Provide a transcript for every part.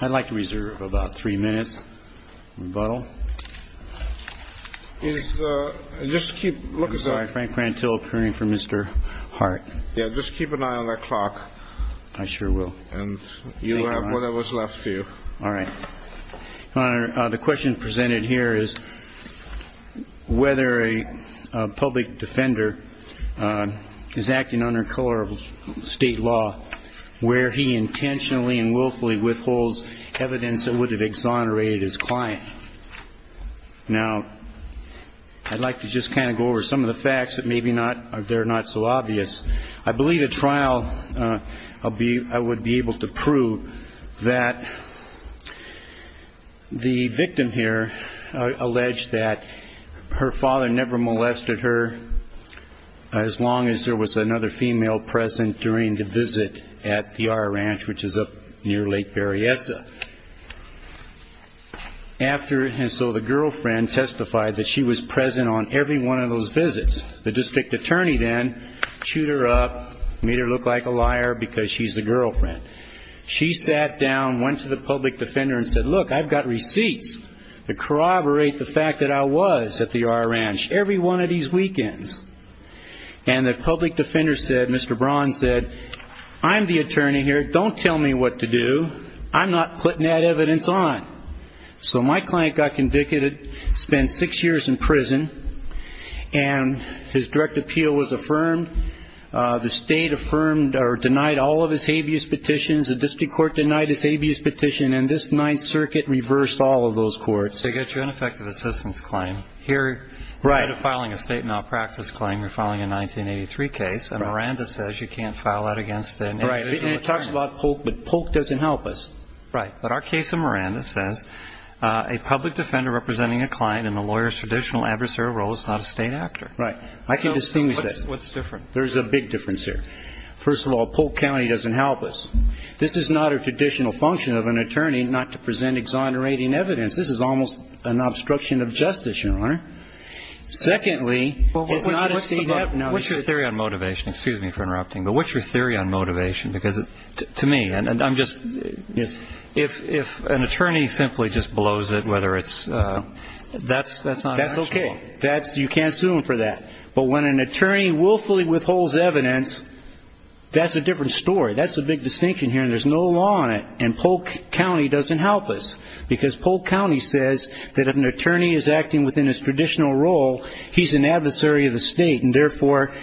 I'd like to reserve about three minutes rebuttal is just keep looking Frank Prantill appearing for mr. Hart yeah just keep an eye on that clock I sure will and you have what I was left to you all right the question presented here is whether a public defender is acting under color of state law where he intentionally and willfully withholds evidence that would have exonerated his client now I'd like to just kind of go over some of the facts that maybe not they're not so obvious I believe a trial I'll be I would be able to prove that the victim here alleged that her father never molested her as long as there was another female present during the visit at the our ranch which is up near Lake Berryessa after and so the girlfriend testified that she was present on every one of those visits the district attorney then shoot her up made her look like a liar because she's a girlfriend she sat down went to the public defender and said look I've got receipts to corroborate the fact that I was at the said mr. Braun said I'm the attorney here don't tell me what to do I'm not putting that evidence on so my client got convicted spent six years in prison and his direct appeal was affirmed the state affirmed or denied all of his habeas petitions the district court denied his habeas petition and this Ninth Circuit reversed all of those courts they get your ineffective assistance claim here right of filing a state malpractice claim you're filing a 1983 case and Miranda says you can't file out against it right it talks a lot poke but poke doesn't help us right but our case of Miranda says a public defender representing a client in the lawyers traditional adversarial role is not a state actor right I can distinguish that what's different there's a big difference here first of all Polk County doesn't help us this is not a traditional function of an attorney not to present exonerating evidence this is almost an obstruction of justice your honor secondly what's your theory on motivation excuse me for interrupting but what's your theory on motivation because to me and I'm just yes if if an attorney simply just blows it whether it's that's that's not that's okay that's you can't sue him for that but when an attorney willfully withholds evidence that's a different story that's a big distinction here and there's no law on it and Polk County doesn't help us because Polk County says that if an attorney is acting within his traditional role he's an adversary of the state and therefore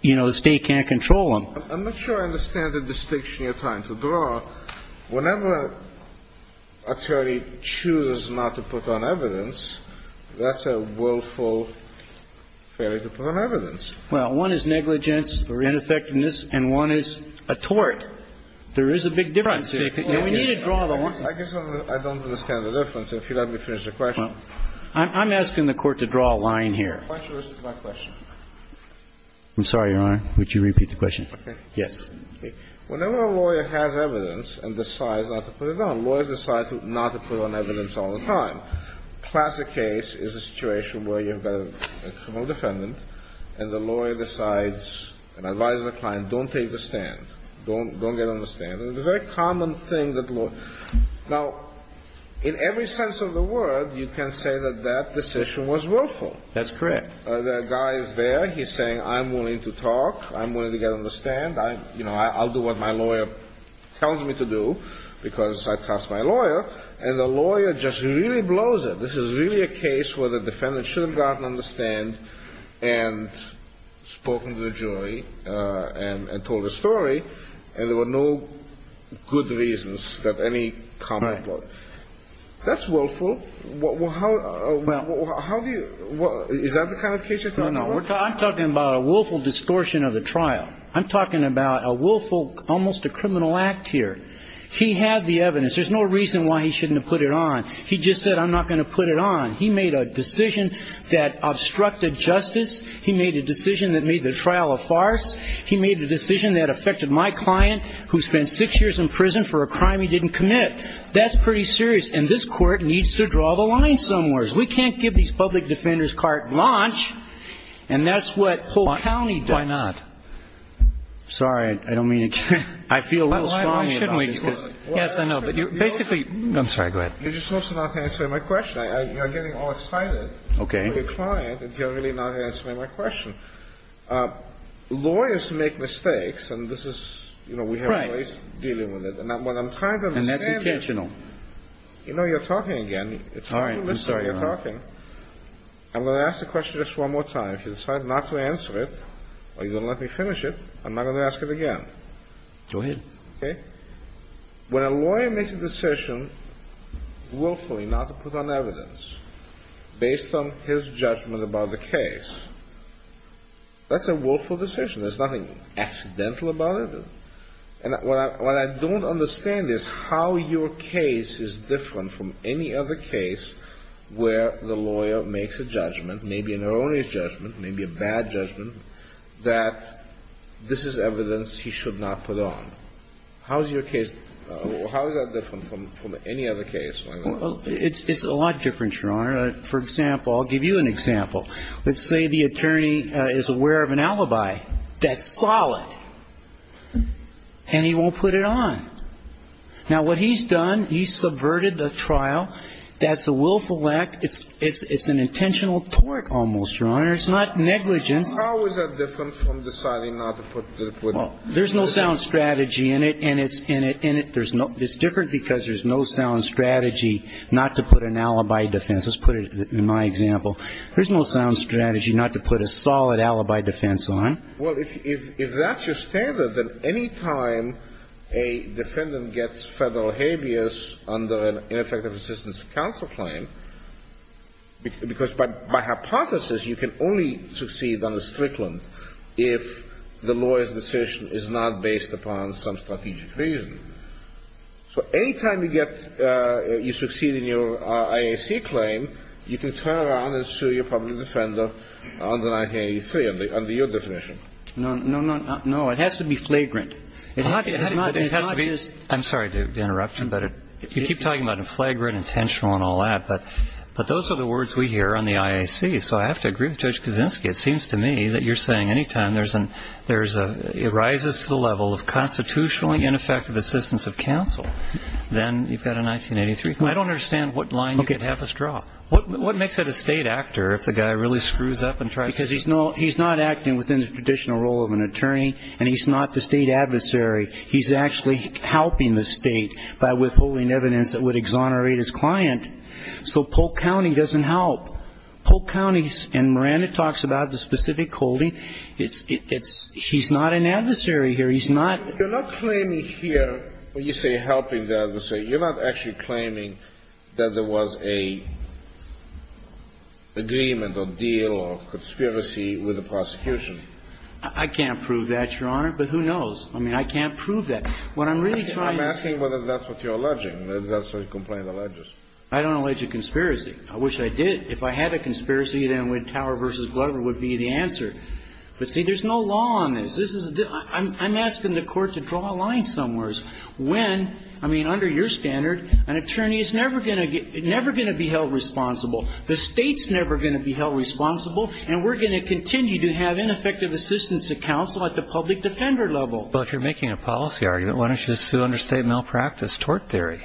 you know the state can't control him I'm not sure I understand the distinction you're trying to draw whenever actually chooses not to put on evidence that's a willful failure to put on evidence well one is negligence or ineffectiveness and one is a tort there I'm asking the court to draw a line here I'm sorry your honor would you repeat the question yes whenever a lawyer has evidence and decides not to put it on lawyers decide not to put on evidence all the time classic case is a situation where you have a criminal defendant and the lawyer decides and advises the client don't take the stand don't don't get on the stand and the very common thing that look now in every sense of the word you can say that that decision was willful that's correct the guy is there he's saying I'm willing to talk I'm willing to get on the stand I you know I'll do what my lawyer tells me to do because I trust my lawyer and the lawyer just really blows it this is really a case where the story and there were no good reasons that any comment that's willful well how do you know we're talking about a willful distortion of the trial I'm talking about a willful almost a criminal act here he had the evidence there's no reason why he shouldn't put it on he just said I'm not going to put it on he made a decision that obstructed justice he made a decision that made the trial a farce he made a decision that affected my client who spent six years in prison for a crime he didn't commit that's pretty serious and this court needs to draw the line somewheres we can't give these public defenders carte blanche and that's what Polk County does why not sorry I don't mean I feel yes I know but you basically I'm sorry go ahead you're just supposed to not answer my question I'm getting all excited okay your client if you're really not answering my question lawyers make mistakes and this is you know we have right dealing with it and that what I'm trying to and that's intentional you know you're talking again it's all right I'm sorry you're talking I'm gonna ask the question just one more time if you decide not to answer it are you let me finish it I'm not gonna ask it again do it okay when a lawyer makes a decision willfully not to put on evidence based on his judgment about the case that's a willful decision there's nothing accidental about it and what I don't understand is how your case is different from any other case where the lawyer makes a judgment maybe an erroneous judgment maybe a bad judgment that this is evidence he should not put on how's your case from any other case it's a lot different your honor for example I'll give you an example let's say the attorney is aware of an alibi that's solid and he won't put it on now what he's done he subverted the trial that's a willful act it's it's it's an there's no sound strategy in it and it's in it in it there's no it's different because there's no sound strategy not to put an alibi defense let's put it in my example there's no sound strategy not to put a solid alibi defense on well if that's your standard that any time a defendant gets federal habeas under an ineffective assistance counsel claim because by hypothesis you can only succeed on the Strickland if the lawyer's decision is not based upon some strategic reason so anytime you get you succeed in your IAC claim you can turn around and sue your public defender under 1983 under your definition no no no it has to be flagrant it has to be I'm sorry to interrupt you but if you keep talking about a flagrant intentional and all that but but those are the words we it seems to me that you're saying anytime there's an there's a it rises to the level of constitutionally ineffective assistance of counsel then you've got a 1983 I don't understand what line you could have us draw what what makes it a state actor if the guy really screws up and tries because he's no he's not acting within the traditional role of an attorney and he's not the state adversary he's actually helping the state by withholding evidence that would exonerate his client so Polk County doesn't help Polk County and Miranda talks about the specific holding it's it's he's not an adversary here he's not you're not claiming here when you say helping the other say you're not actually claiming that there was a agreement or deal or conspiracy with the prosecution I can't prove that your honor but who knows I mean I can't prove that what I'm really trying to say whether that's what you're alleging that's why you complain the ledgers I don't allege a conspiracy I wish I did if I had a tower versus Glover would be the answer but see there's no law on this this is I'm asking the court to draw a line somewheres when I mean under your standard an attorney is never gonna get never gonna be held responsible the state's never gonna be held responsible and we're gonna continue to have ineffective assistance to counsel at the public defender level but if you're making a policy argument why don't you just sue under state malpractice tort theory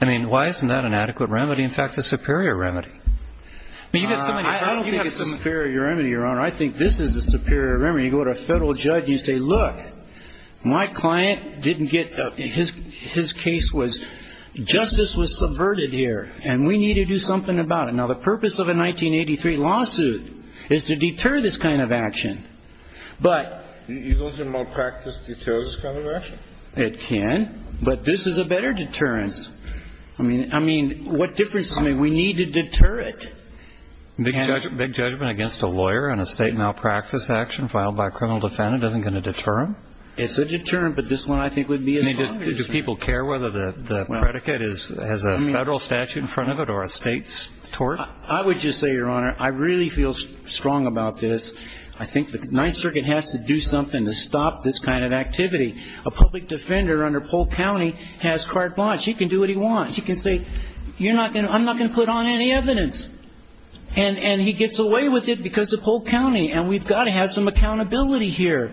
I mean why isn't that an adequate remedy in fact the superior remedy superior remedy your honor I think this is the superior memory you go to a federal judge you say look my client didn't get his his case was justice was subverted here and we need to do something about it now the purpose of a 1983 lawsuit is to deter this kind of action but it can but this is a better deterrence I mean I mean what difference I mean we need to deter it big judgment against a lawyer and a state malpractice action filed by a criminal defendant isn't going to deter him it's a deterrent but this one I think would be needed do people care whether the predicate is as a federal statute in front of it or a state's tort I would just say your honor I really feel strong about this I think the Ninth Circuit has to do something to stop this kind of activity a public defender under Polk County has carte blanche he can do what he wants he can say you're not gonna I'm not gonna put on any evidence and and he gets away with it because of Polk County and we've got to have some accountability here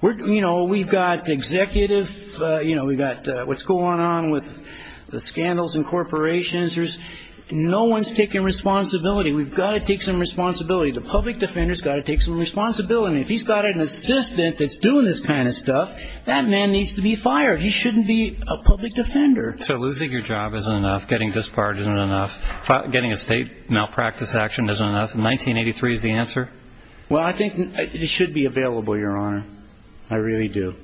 we're you know we've got executive you know we've got what's going on with the scandals and corporations there's no one's taking responsibility we've got to take some responsibility the public defenders got to take some responsibility if he's got an assistant that's doing this kind of stuff that man needs to be fired he shouldn't be a public defender so losing your job isn't enough getting this part isn't enough getting a state malpractice action isn't enough in 1983 is the answer well I think it should be available your honor I really do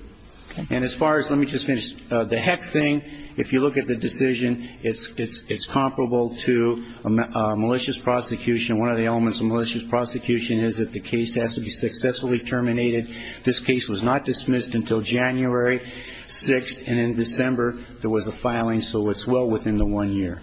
and as far as let me just finish the heck thing if you look at the decision it's it's it's comparable to a malicious prosecution one of the elements of malicious prosecution is that the case has to be successfully terminated this case was not dismissed until January 6th and in December there was a filing so it's well within the one year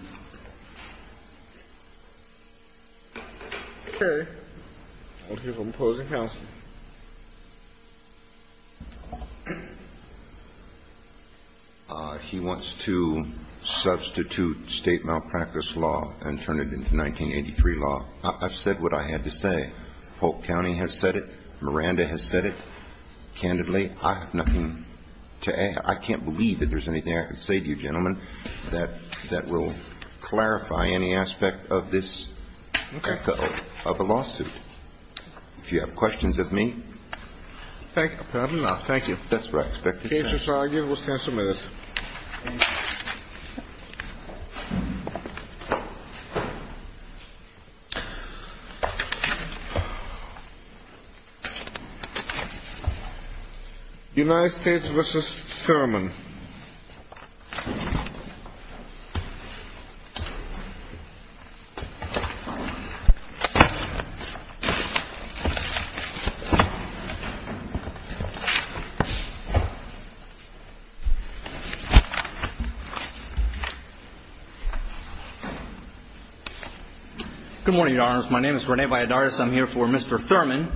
he wants to substitute state malpractice law and turn it into 1983 law I've said what I had to say Polk County has said it Miranda has said it candidly I have nothing to add I can't believe that there's anything I could say to you gentlemen that that will clarify any aspect of this of a lawsuit if you have good morning your honors my name is Rene Valladares I'm here for Mr. Thurman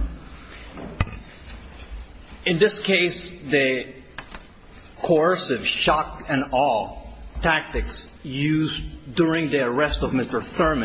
in this case the coercive shock and awe tactics used during the arrest of Mr. Thurman